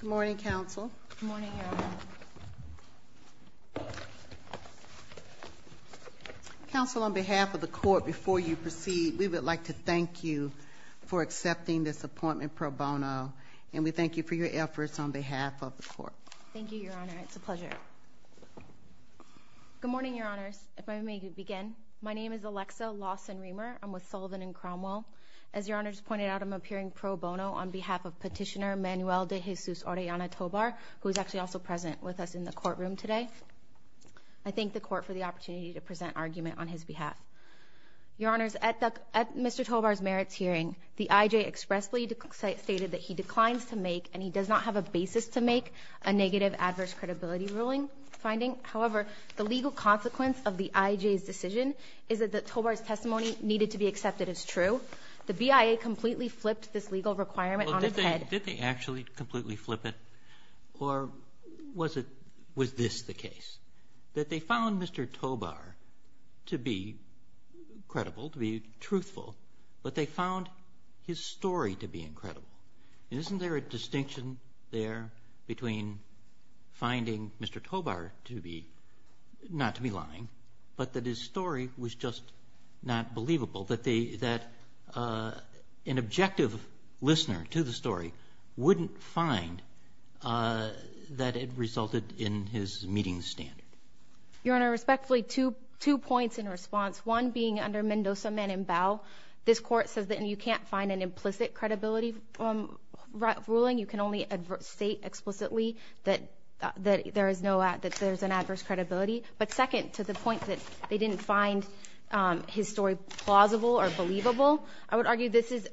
Good morning, Counsel. Good morning, Your Honor. Counsel, on behalf of the Court, before you proceed, we would like to thank you for accepting this appointment pro bono, and we thank you for your efforts on behalf of the Court. Thank you, Your Honor. It's a pleasure. Good morning, Your Honors. If I may begin, my name is Alexa Lawson-Reamer. I'm with Sullivan & Cromwell. As Your Honor just pointed out, I'm appearing pro bono on behalf of Petitioner Manuel de Jesus Orellana Tobar, who is actually also present with us in the courtroom today. I thank the Court for the opportunity to present argument on his behalf. Your Honors, at Mr. Tobar's merits hearing, the IJ expressly stated that he declines to make and he does not have a basis to make a negative adverse credibility ruling finding. However, the legal consequence of the IJ's decision is that Tobar's testimony needed to be accepted as true. The BIA completely flipped this legal requirement on its head. Well, did they actually completely flip it, or was this the case, that they found Mr. Tobar to be credible, to be truthful, but they found his story to be incredible? Isn't there a distinction there between finding Mr. Tobar to be, not to be lying, but that his story was just not believable, that an objective listener to the story wouldn't find that it resulted in his meeting the standard? Your Honor, respectfully, two points in response. One, being under Mendoza, Mann, and Bau, this Court says that you can't find an implicit credibility ruling. You can only state explicitly that there is an adverse credibility. But second, to the point that they didn't find his story plausible or believable, I would argue this is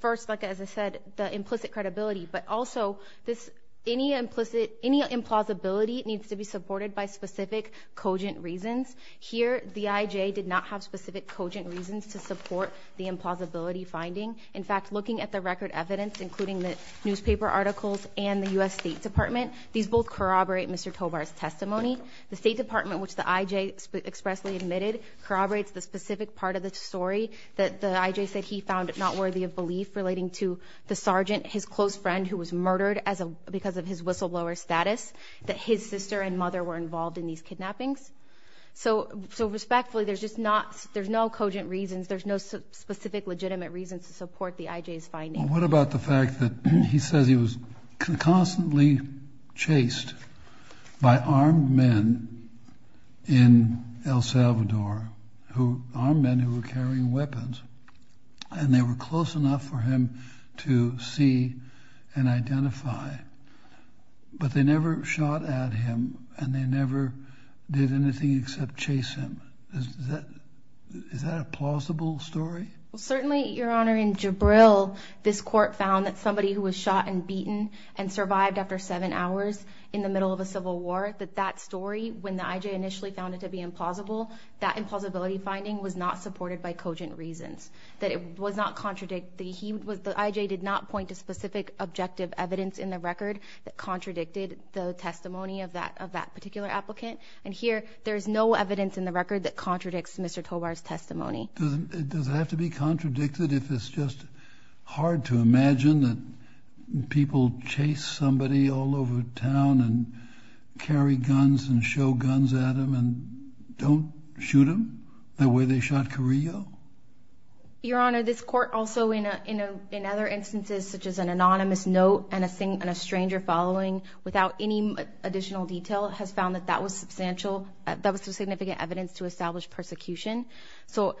first, like I said, the implicit credibility, but also any implausibility needs to be supported by specific cogent reasons. Here, the I.J. did not have specific cogent reasons to support the implausibility finding. In fact, looking at the record evidence, including the newspaper articles and the U.S. State Department, these both corroborate Mr. Tobar's testimony. The State Department, which the I.J. expressly admitted, corroborates the specific part of the story that the I.J. said he found not worthy of belief relating to the sergeant, his close friend, who was murdered because of his whistleblower status, that his sister and mother were involved in these kidnappings. So respectfully, there's no cogent reasons, there's no specific legitimate reasons to support the I.J.'s finding. What about the fact that he says he was constantly chased by armed men in El Salvador, armed men who were carrying weapons, and they were close enough for him to see and identify, but they never shot at him, and they never did anything except chase him? Is that a plausible story? Well, certainly, Your Honor, in Jabril, this court found that somebody who was shot and beaten and survived after seven hours in the middle of a civil war, that that story, when the I.J. initially found it to be implausible, that implausibility finding was not supported by cogent reasons, that it was not contradictory. The I.J. did not point to specific objective evidence in the record that contradicted the testimony of that particular applicant. And here, there is no evidence in the record that contradicts Mr. Tobar's testimony. Does it have to be contradicted if it's just hard to imagine that people chase somebody all over town and carry guns and show guns at them and don't shoot them the way they shot Carrillo? Your Honor, this court also, in other instances, such as an anonymous note and a stranger following, without any additional detail, has found that that was substantial, that was significant evidence to establish persecution. So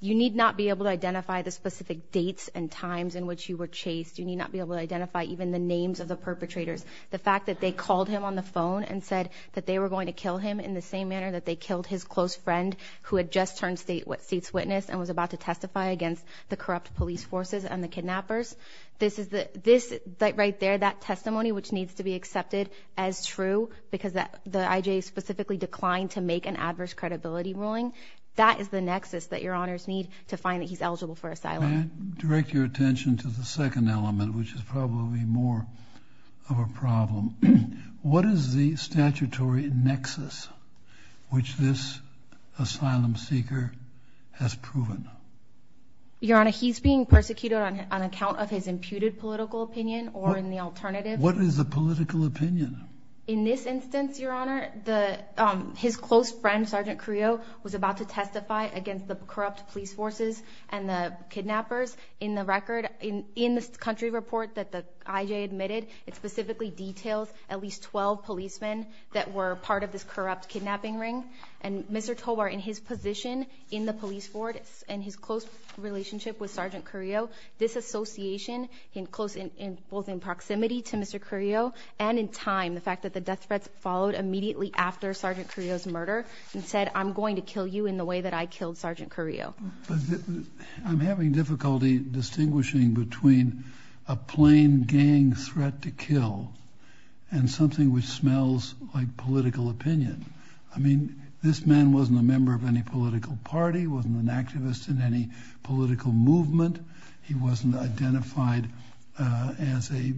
you need not be able to identify the specific dates and times in which you were chased. You need not be able to identify even the names of the perpetrators. The fact that they called him on the phone and said that they were going to kill him in the same manner that they killed his close friend who had just turned state witness and was about to testify against the corrupt police forces and the kidnappers, this right there, that testimony, which needs to be accepted as true because the I.J. specifically declined to make an adverse credibility ruling, that is the nexus that Your Honors need to find that he's eligible for asylum. May I direct your attention to the second element, which is probably more of a problem? What is the statutory nexus which this asylum seeker has proven? Your Honor, he's being persecuted on account of his imputed political opinion or in the alternative. What is the political opinion? In this instance, Your Honor, his close friend, Sergeant Carrillo, was about to testify against the corrupt police forces and the kidnappers. In the record, in this country report that the I.J. admitted, it specifically details at least 12 policemen that were part of this corrupt kidnapping ring. And Mr. Tobar, in his position in the police force and his close relationship with Sergeant Carrillo, this association, both in proximity to Mr. Carrillo and in time, the fact that the death threats followed immediately after Sergeant Carrillo's murder and said, I'm going to kill you in the way that I killed Sergeant Carrillo. I'm having difficulty distinguishing between a plain gang threat to kill and something which smells like political opinion. I mean, this man wasn't a member of any political party, wasn't an activist in any political movement. He wasn't identified as a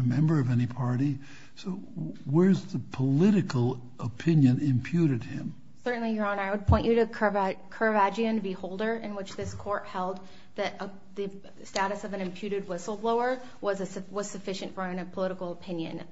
member of any party. So where's the political opinion imputed him? Certainly, Your Honor, I would point you to Curvaggian Beholder, in which this court held that the status of an imputed whistleblower was sufficient for political opinion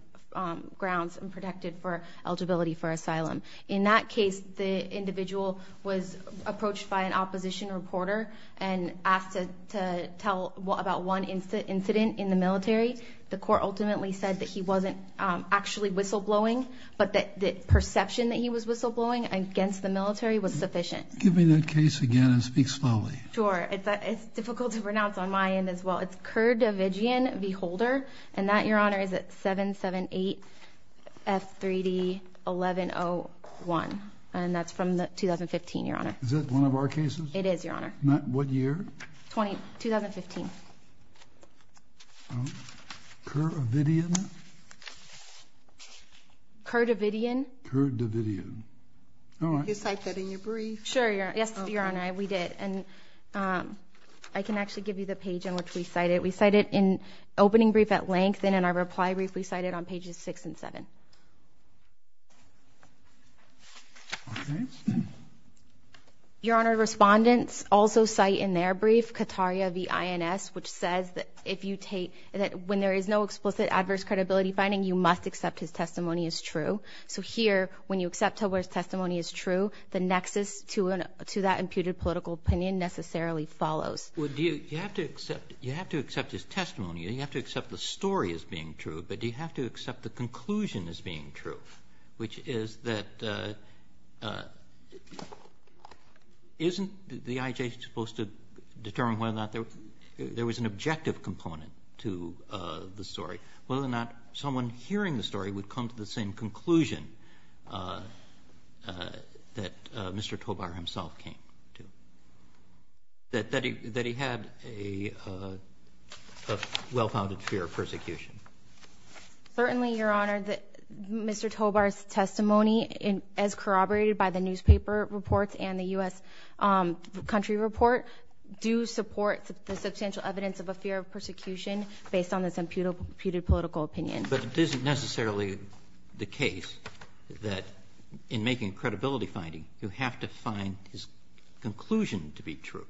grounds and protected for eligibility for asylum. In that case, the individual was approached by an opposition reporter and asked to tell about one incident in the military. The court ultimately said that he wasn't actually whistleblowing, but that the perception that he was whistleblowing against the military was sufficient. Give me that case again and speak slowly. Sure. It's difficult to pronounce on my end as well. It's Curvaggian Beholder, and that, Your Honor, is at 778-F3D-1101. And that's from 2015, Your Honor. Is that one of our cases? It is, Your Honor. What year? 2015. Okay. Curvaggian? Curvaggian. Curvaggian. All right. Did you cite that in your brief? Sure, Your Honor. Yes, Your Honor, we did. I can actually give you the page on which we cite it. We cite it in opening brief at length, and in our reply brief we cite it on pages 6 and 7. Okay. Your Honor, respondents also cite in their brief Cataria v. INS, which says that when there is no explicit adverse credibility finding, you must accept his testimony as true. So here, when you accept someone's testimony as true, the nexus to that imputed political opinion necessarily follows. Well, you have to accept his testimony, and you have to accept the story as being true, but do you have to accept the conclusion as being true, which is that isn't the IJ supposed to determine whether or not there was an objective component to the story, whether or not someone hearing the story would come to the same conclusion that Mr. Tobar himself came to, that he had a well-founded fear of persecution? Certainly, Your Honor, Mr. Tobar's testimony, as corroborated by the newspaper reports and the U.S. Country Report, do support the substantial evidence of a fear of persecution based on this imputed political opinion. But it isn't necessarily the case that in making a credibility finding, you have to find his conclusion to be true.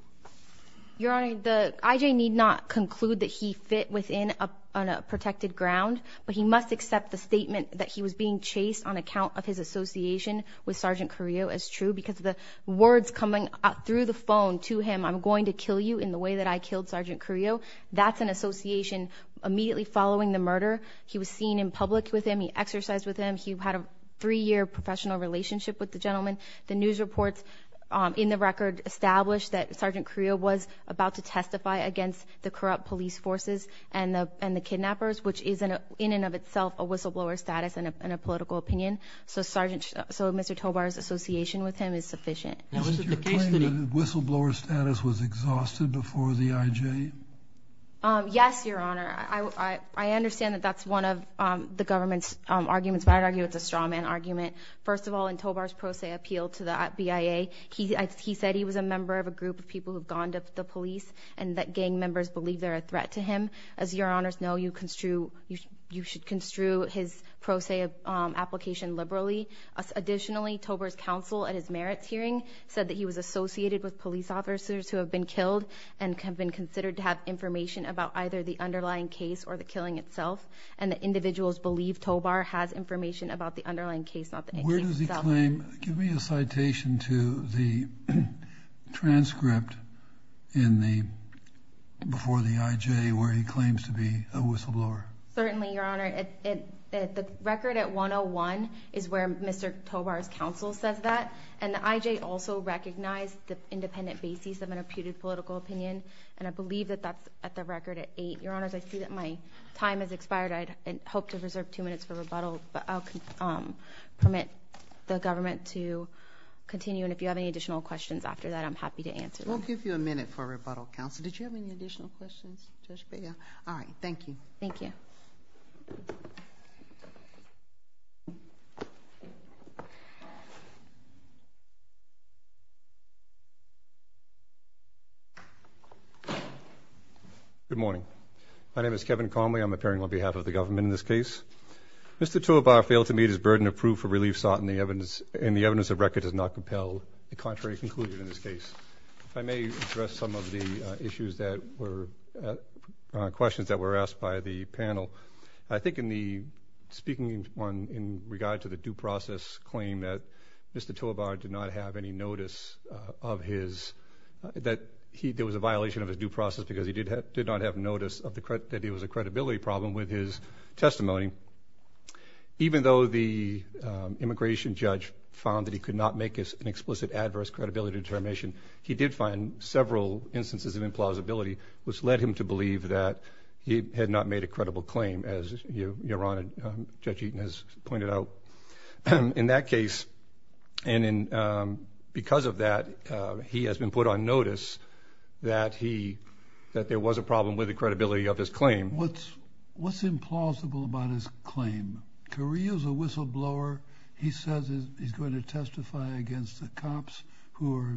Your Honor, the IJ need not conclude that he fit within a protected ground, but he must accept the statement that he was being chased on account of his association with Sergeant Carrillo as true because the words coming out through the phone to him, I'm going to kill you in the way that I killed Sergeant Carrillo, that's an association immediately following the murder. He was seen in public with him. He exercised with him. He had a three-year professional relationship with the gentleman. The news reports in the record establish that Sergeant Carrillo was about to testify against the corrupt police forces and the kidnappers, which is in and of itself a whistleblower status and a political opinion. So Mr. Tobar's association with him is sufficient. Isn't your claim that the whistleblower status was exhausted before the IJ? Yes, Your Honor. I understand that that's one of the government's arguments, but I'd argue it's a strawman argument. First of all, in Tobar's pro se appeal to the BIA, he said he was a member of a group of people who have gone to the police and that gang members believe they're a threat to him. As Your Honors know, you should construe his pro se application liberally. Additionally, Tobar's counsel at his merits hearing said that he was associated with police officers who have been killed and have been considered to have information about either the underlying case or the killing itself and that individuals believe Tobar has information about the underlying case, not the case itself. Give me a citation to the transcript before the IJ where he claims to be a whistleblower. Certainly, Your Honor. The record at 101 is where Mr. Tobar's counsel says that, and the IJ also recognized the independent basis of an imputed political opinion, and I believe that that's at the record at 8. Your Honors, I see that my time has expired. I hope to reserve two minutes for rebuttal, but I'll permit the government to continue, and if you have any additional questions after that, I'm happy to answer them. We'll give you a minute for rebuttal, Counsel. Did you have any additional questions, Judge Bego? All right. Thank you. Thank you. Thank you. Good morning. My name is Kevin Conway. I'm appearing on behalf of the government in this case. Mr. Tobar failed to meet his burden of proof for relief sought, and the evidence of record does not compel a contrary conclusion in this case. If I may address some of the issues that were questions that were asked by the panel. I think in the speaking in regard to the due process claim that Mr. Tobar did not have any notice of his, that there was a violation of his due process because he did not have notice that there was a credibility problem with his testimony. Even though the immigration judge found that he could not make an explicit adverse credibility determination, he did find several instances of implausibility, which led him to believe that he had not made a credible claim, as Judge Eaton has pointed out. In that case, and because of that, he has been put on notice that there was a problem with the credibility of his claim. What's implausible about his claim? Carrillo's a whistleblower. He says he's going to testify against the cops who are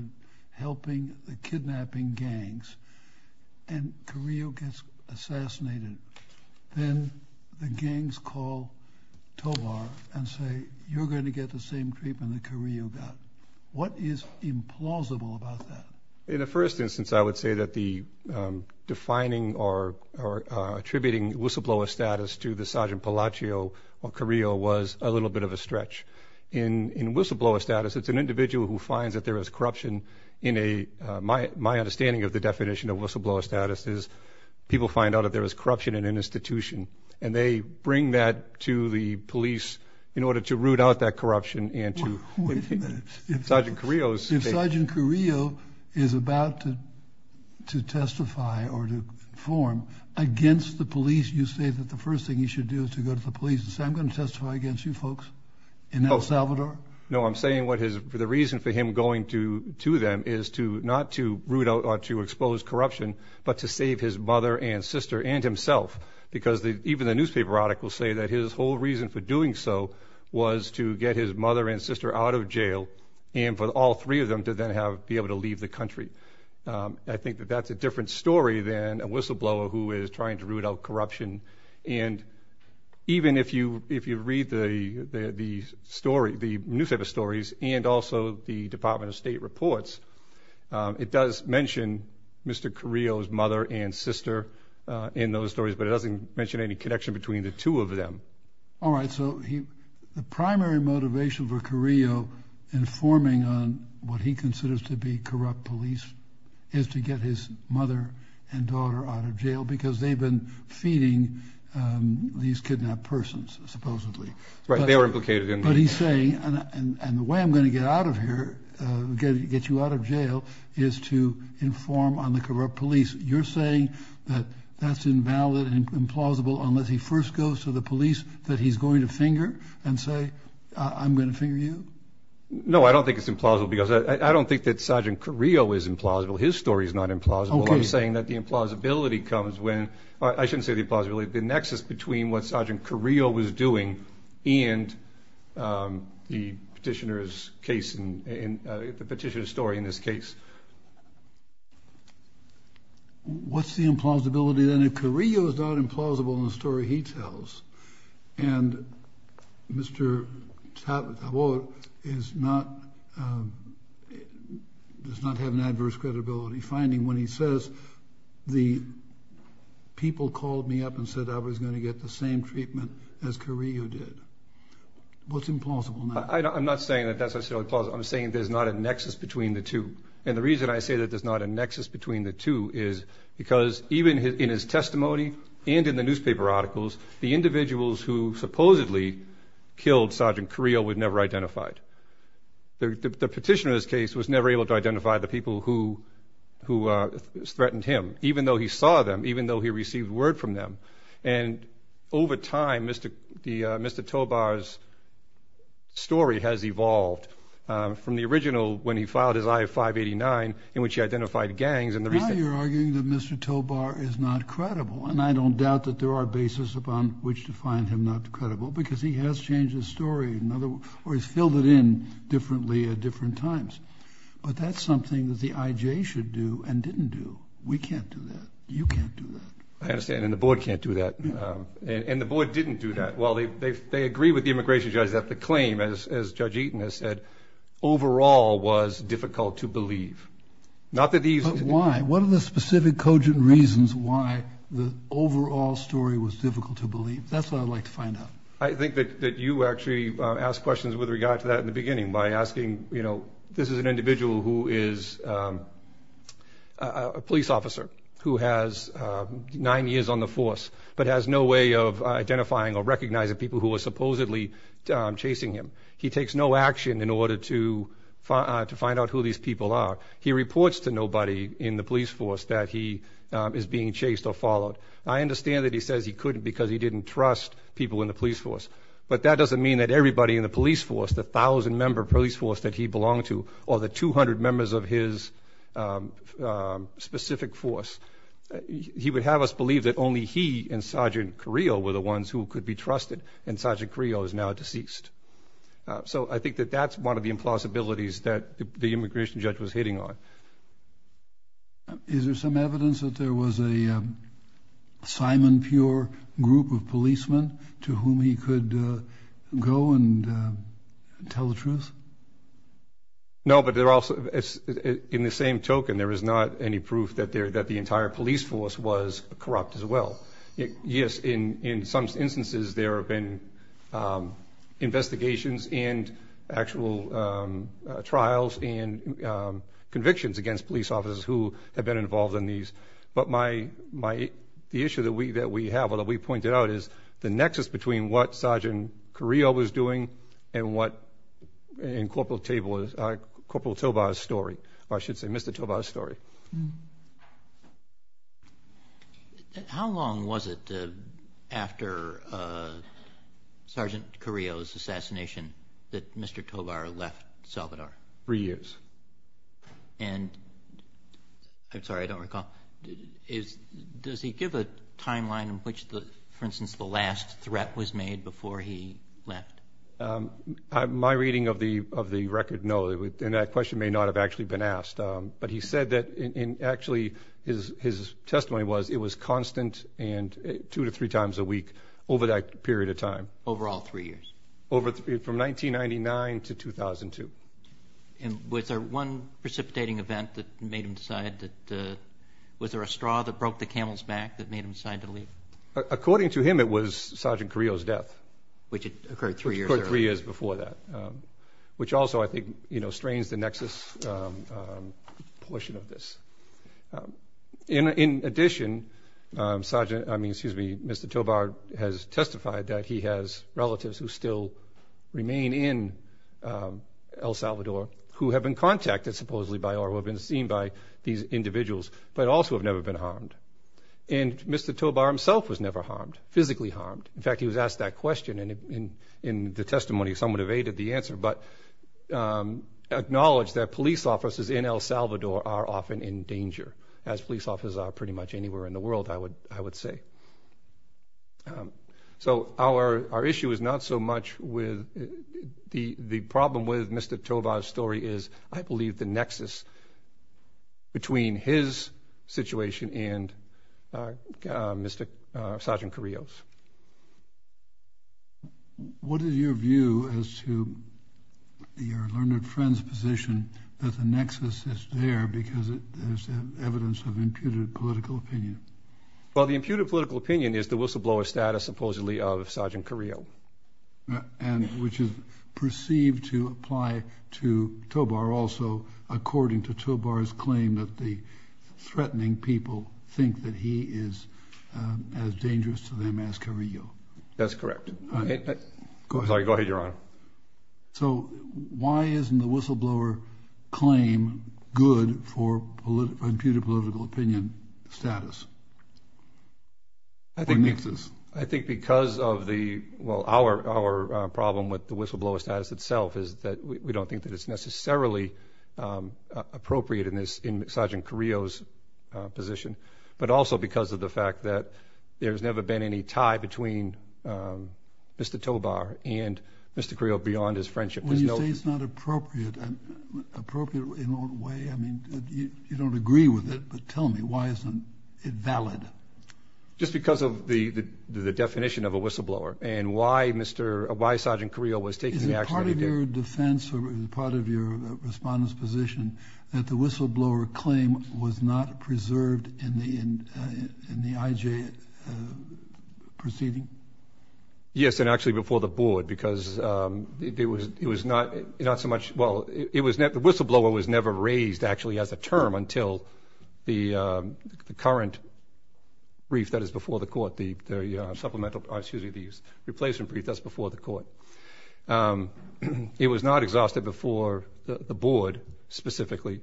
helping the kidnapping gangs. And Carrillo gets assassinated. Then the gangs call Tobar and say, you're going to get the same treatment that Carrillo got. What is implausible about that? In the first instance, I would say that the defining or attributing whistleblower status to the Sergeant Palaccio or Carrillo was a little bit of a stretch. In whistleblower status, it's an individual who finds that there is corruption in a, my understanding of the definition of whistleblower status is people find out that there is corruption in an institution, and they bring that to the police in order to root out that corruption. Wait a minute. If Sergeant Carrillo is about to testify or to inform against the police, you say that the first thing he should do is to go to the police No, I'm saying the reason for him going to them is not to root out or to expose corruption, but to save his mother and sister and himself, because even the newspaper articles say that his whole reason for doing so was to get his mother and sister out of jail and for all three of them to then be able to leave the country. I think that that's a different story than a whistleblower who is trying to root out corruption. And even if you read the story, the newspaper stories, and also the Department of State reports, it does mention Mr. Carrillo's mother and sister in those stories, but it doesn't mention any connection between the two of them. All right, so the primary motivation for Carrillo informing on what he considers to be corrupt police is to get his mother and daughter out of jail because they've been feeding these kidnapped persons, supposedly. Right, they were implicated in the- But he's saying, and the way I'm going to get out of here, get you out of jail, is to inform on the corrupt police. You're saying that that's invalid and implausible unless he first goes to the police that he's going to finger and say, I'm going to finger you? No, I don't think it's implausible because I don't think that Sergeant Carrillo is implausible. His story is not implausible. I'm saying that the implausibility comes when- I shouldn't say the implausibility, the nexus between what Sergeant Carrillo was doing and the petitioner's case and the petitioner's story in this case. What's the implausibility then if Carrillo is not implausible in the story he tells? And Mr. Tabor does not have an adverse credibility finding when he says, the people called me up and said I was going to get the same treatment as Carrillo did. What's implausible now? I'm not saying that that's necessarily plausible. I'm saying there's not a nexus between the two. And the reason I say that there's not a nexus between the two is because even in his testimony and in the newspaper articles, the individuals who supposedly killed Sergeant Carrillo were never identified. The petitioner's case was never able to identify the people who threatened him, even though he saw them, even though he received word from them. And over time, Mr. Tabor's story has evolved from the original when he filed his I-589 in which he identified gangs and the reason- Mr. Tabor is not credible, and I don't doubt that there are bases upon which to find him not credible because he has changed his story or he's filled it in differently at different times. But that's something that the IJ should do and didn't do. We can't do that. You can't do that. I understand, and the board can't do that. And the board didn't do that. Well, they agree with the immigration judge that the claim, as Judge Eaton has said, overall was difficult to believe. Not that these- But why? What are the specific cogent reasons why the overall story was difficult to believe? That's what I'd like to find out. I think that you actually asked questions with regard to that in the beginning by asking, you know, this is an individual who is a police officer who has nine years on the force but has no way of identifying or recognizing people who are supposedly chasing him. He takes no action in order to find out who these people are. He reports to nobody in the police force that he is being chased or followed. I understand that he says he couldn't because he didn't trust people in the police force, but that doesn't mean that everybody in the police force, the 1,000-member police force that he belonged to or the 200 members of his specific force, he would have us believe that only he and Sergeant Carrillo were the ones who could be trusted, and Sergeant Carrillo is now deceased. So I think that that's one of the impossibilities that the immigration judge was hitting on. Is there some evidence that there was a Simon Pure group of policemen to whom he could go and tell the truth? No, but in the same token, there is not any proof that the entire police force was corrupt as well. Yes, in some instances there have been investigations and actual trials and convictions against police officers who have been involved in these. But the issue that we have or that we pointed out is the nexus between what Sergeant Carrillo was doing and what Corporal Tobar's story, or I should say Mr. Tobar's story. How long was it after Sergeant Carrillo's assassination that Mr. Tobar left Salvador? Three years. And I'm sorry, I don't recall. Does he give a timeline in which, for instance, the last threat was made before he left? My reading of the record, no, and that question may not have actually been asked, but he said that actually his testimony was it was constant two to three times a week over that period of time. Over all three years? From 1999 to 2002. And was there one precipitating event that made him decide that, was there a straw that broke the camel's back that made him decide to leave? According to him, it was Sergeant Carrillo's death. Which occurred three years earlier. Three years before that, which also I think strains the nexus portion of this. In addition, Mr. Tobar has testified that he has relatives who still remain in El Salvador who have been contacted supposedly by or who have been seen by these individuals, but also have never been harmed. And Mr. Tobar himself was never harmed, physically harmed. In fact, he was asked that question in the testimony. Someone evaded the answer. But acknowledged that police officers in El Salvador are often in danger, as police officers are pretty much anywhere in the world, I would say. So our issue is not so much with the problem with Mr. Tobar's story is, I believe, the nexus between his situation and Sergeant Carrillo's. What is your view as to your learned friend's position that the nexus is there because there's evidence of imputed political opinion? Well, the imputed political opinion is the whistleblower status supposedly of Sergeant Carrillo. And which is perceived to apply to Tobar also according to Tobar's claim that the threatening people think that he is as dangerous to them as Carrillo. That's correct. Sorry, go ahead, Your Honor. So why isn't the whistleblower claim good for imputed political opinion status? I think because of the, well, our problem with the whistleblower status itself is that we don't think that it's necessarily appropriate in Sergeant Carrillo's position, but also because of the fact that there's never been any tie between Mr. Tobar and Mr. Carrillo beyond his friendship. When you say it's not appropriate, appropriate in what way? I mean, you don't agree with it, but tell me, why isn't it valid? Just because of the definition of a whistleblower and why Sergeant Carrillo was taking the action that he did. Is it part of your defense or part of your respondent's position that the whistleblower claim was not preserved in the IJ proceeding? Yes, and actually before the board because it was not so much, well, the whistleblower was never raised actually as a term until the current brief that is before the court, the replacement brief that's before the court. It was not exhausted before the board specifically.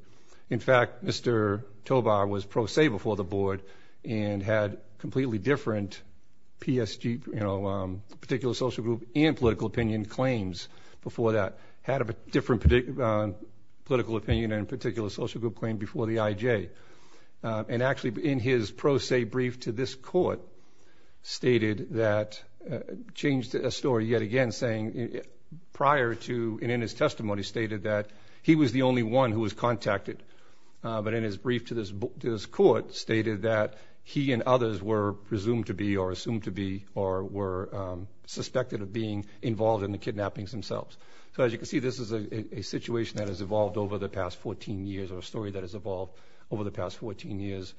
In fact, Mr. Tobar was pro se before the board and had completely different PSG, particular social group, and political opinion claims before that. Had a different political opinion and particular social group claim before the IJ. And actually in his pro se brief to this court stated that, changed a story yet again saying prior to and in his testimony stated that he was the only one who was contacted. But in his brief to this court stated that he and others were presumed to be or assumed to be or were suspected of being involved in the kidnappings themselves. So as you can see, this is a situation that has evolved over the past 14 years or a story that has evolved over the past 14 years,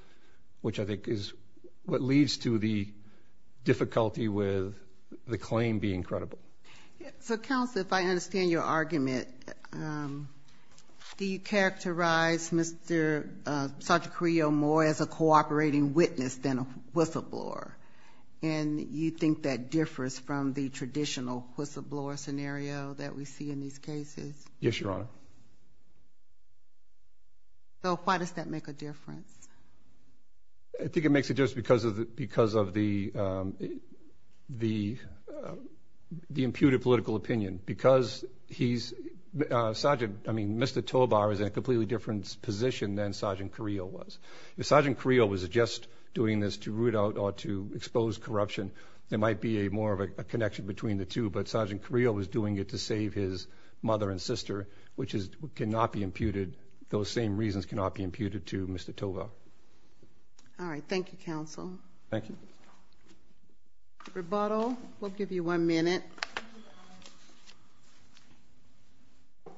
which I think is what leads to the difficulty with the claim being credible. So counsel, if I understand your argument, do you characterize Mr. Sartre-Curiel more as a cooperating witness than a whistleblower? And you think that differs from the traditional whistleblower scenario that we see in these cases? Yes, Your Honor. So why does that make a difference? I think it makes a difference because of the imputed political opinion. Because he's, Sergeant, I mean, Mr. Tovar is in a completely different position than Sergeant Curiel was. If Sergeant Curiel was just doing this to root out or to expose corruption, there might be more of a connection between the two. But Sergeant Curiel was doing it to save his mother and sister, which cannot be imputed. Those same reasons cannot be imputed to Mr. Tovar. All right. Thank you, counsel. Thank you. Rebuttal? We'll give you one minute.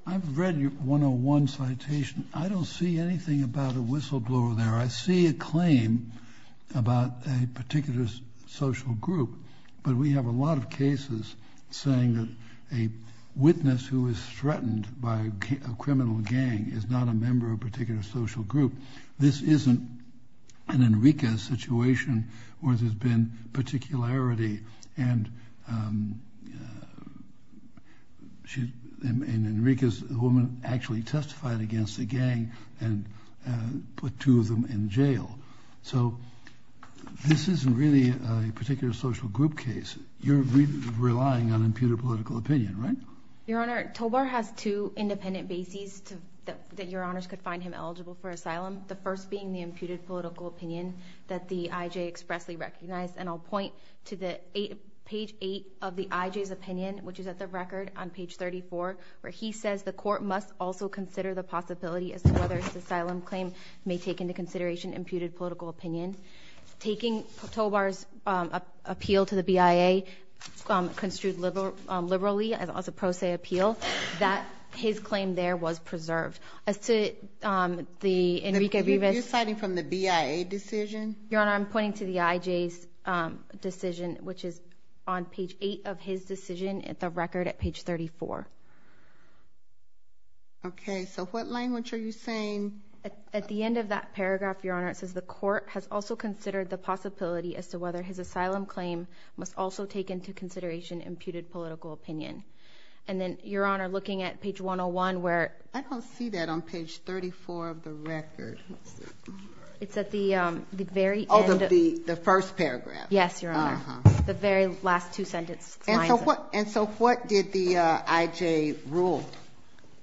I've read your 101 citation. I don't see anything about a whistleblower there. I see a claim about a particular social group, but we have a lot of cases saying that a witness who is threatened by a criminal gang is not a member of a particular social group. This isn't an Enriquez situation where there's been particularity. And Enriquez, the woman, actually testified against the gang and put two of them in jail. So this isn't really a particular social group case. You're relying on imputed political opinion, right? Your Honor, Tovar has two independent bases that Your Honors could find him eligible for asylum, the first being the imputed political opinion that the IJ expressly recognized. And I'll point to page 8 of the IJ's opinion, which is at the record on page 34, where he says the court must also consider the possibility as to whether this asylum claim may take into consideration imputed political opinion. Taking Tovar's appeal to the BIA construed liberally as a pro se appeal, that his claim there was preserved. You're citing from the BIA decision? Your Honor, I'm pointing to the IJ's decision, which is on page 8 of his decision at the record at page 34. Okay, so what language are you saying? At the end of that paragraph, Your Honor, it says the court has also considered the possibility as to whether his asylum claim must also take into consideration imputed political opinion. And then, Your Honor, looking at page 101 where – I don't see that on page 34 of the record. It's at the very end – Oh, the first paragraph. Yes, Your Honor. The very last two sentences. And so what did the IJ rule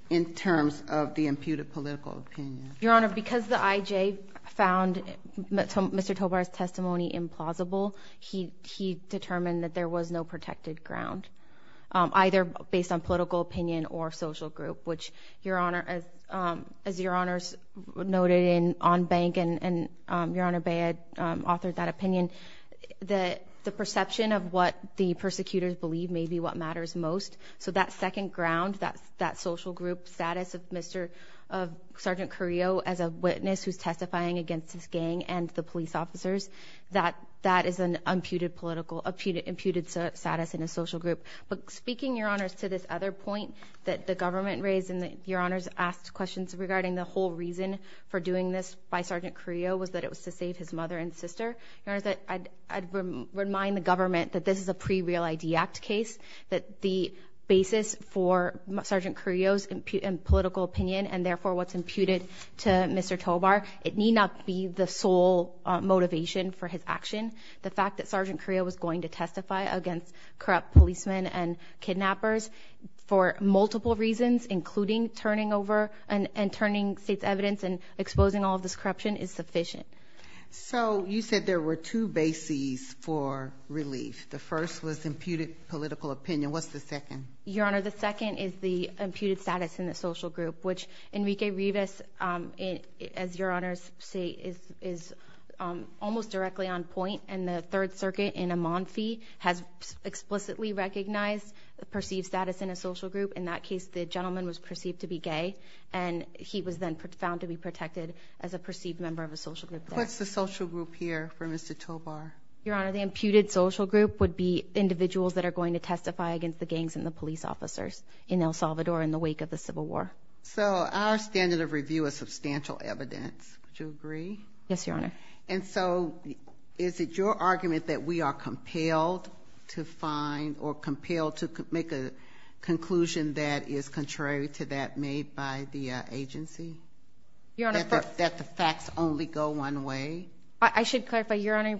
in terms of the imputed political opinion? Your Honor, because the IJ found Mr. Tovar's testimony implausible, he determined that there was no protected ground. Either based on political opinion or social group, which, Your Honor, as Your Honors noted on bank and Your Honor Bayh authored that opinion, the perception of what the persecutors believe may be what matters most. So that second ground, that social group status of Sergeant Carrillo as a witness who's testifying against his gang and the police officers, that is an imputed status in a social group. But speaking, Your Honors, to this other point that the government raised and that Your Honors asked questions regarding the whole reason for doing this by Sergeant Carrillo was that it was to save his mother and sister, Your Honors, I'd remind the government that this is a pre-Real ID Act case, that the basis for Sergeant Carrillo's political opinion and therefore what's imputed to Mr. Tovar, it need not be the sole motivation for his action. The fact that Sergeant Carrillo was going to testify against corrupt policemen and kidnappers for multiple reasons, including turning over and turning state's evidence and exposing all of this corruption is sufficient. So you said there were two bases for relief. The first was imputed political opinion. What's the second? Your Honor, the second is the imputed status in the social group, which Enrique Rivas, as Your Honors say, is almost directly on point, and the Third Circuit in Amonfi has explicitly recognized the perceived status in a social group. In that case, the gentleman was perceived to be gay, and he was then found to be protected as a perceived member of a social group. What's the social group here for Mr. Tovar? Your Honor, the imputed social group would be individuals that are going to testify against the gangs and the police officers in El Salvador in the wake of the Civil War. So our standard of review is substantial evidence. Would you agree? Yes, Your Honor. And so is it your argument that we are compelled to find or compelled to make a conclusion that is contrary to that made by the agency? That the facts only go one way? I should clarify, Your Honor.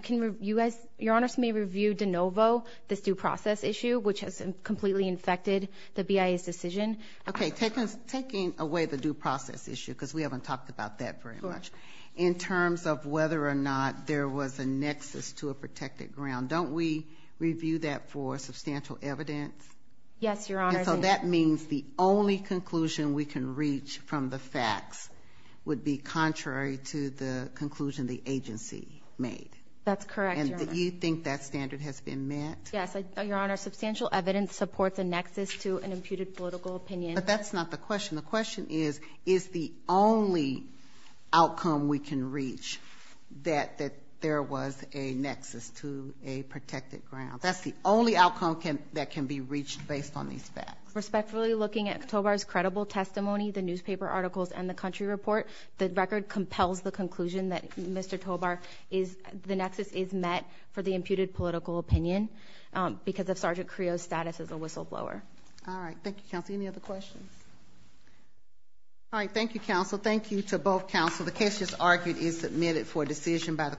Your Honors may review de novo this due process issue, which has completely infected the BIA's decision. Okay, taking away the due process issue, because we haven't talked about that very much, in terms of whether or not there was a nexus to a protected ground, don't we review that for substantial evidence? Yes, Your Honor. And so that means the only conclusion we can reach from the facts would be contrary to the conclusion the agency made? That's correct, Your Honor. And do you think that standard has been met? Yes, Your Honor. Substantial evidence supports a nexus to an imputed political opinion. But that's not the question. The question is, is the only outcome we can reach that there was a nexus to a protected ground? That's the only outcome that can be reached based on these facts. Respectfully looking at Tobar's credible testimony, the newspaper articles, and the country report, the record compels the conclusion that Mr. Tobar is the nexus is met for the imputed political opinion because of Sergeant Creo's status as a whistleblower. All right, thank you, Counsel. Any other questions? All right, thank you, Counsel. Thank you to both Counsel.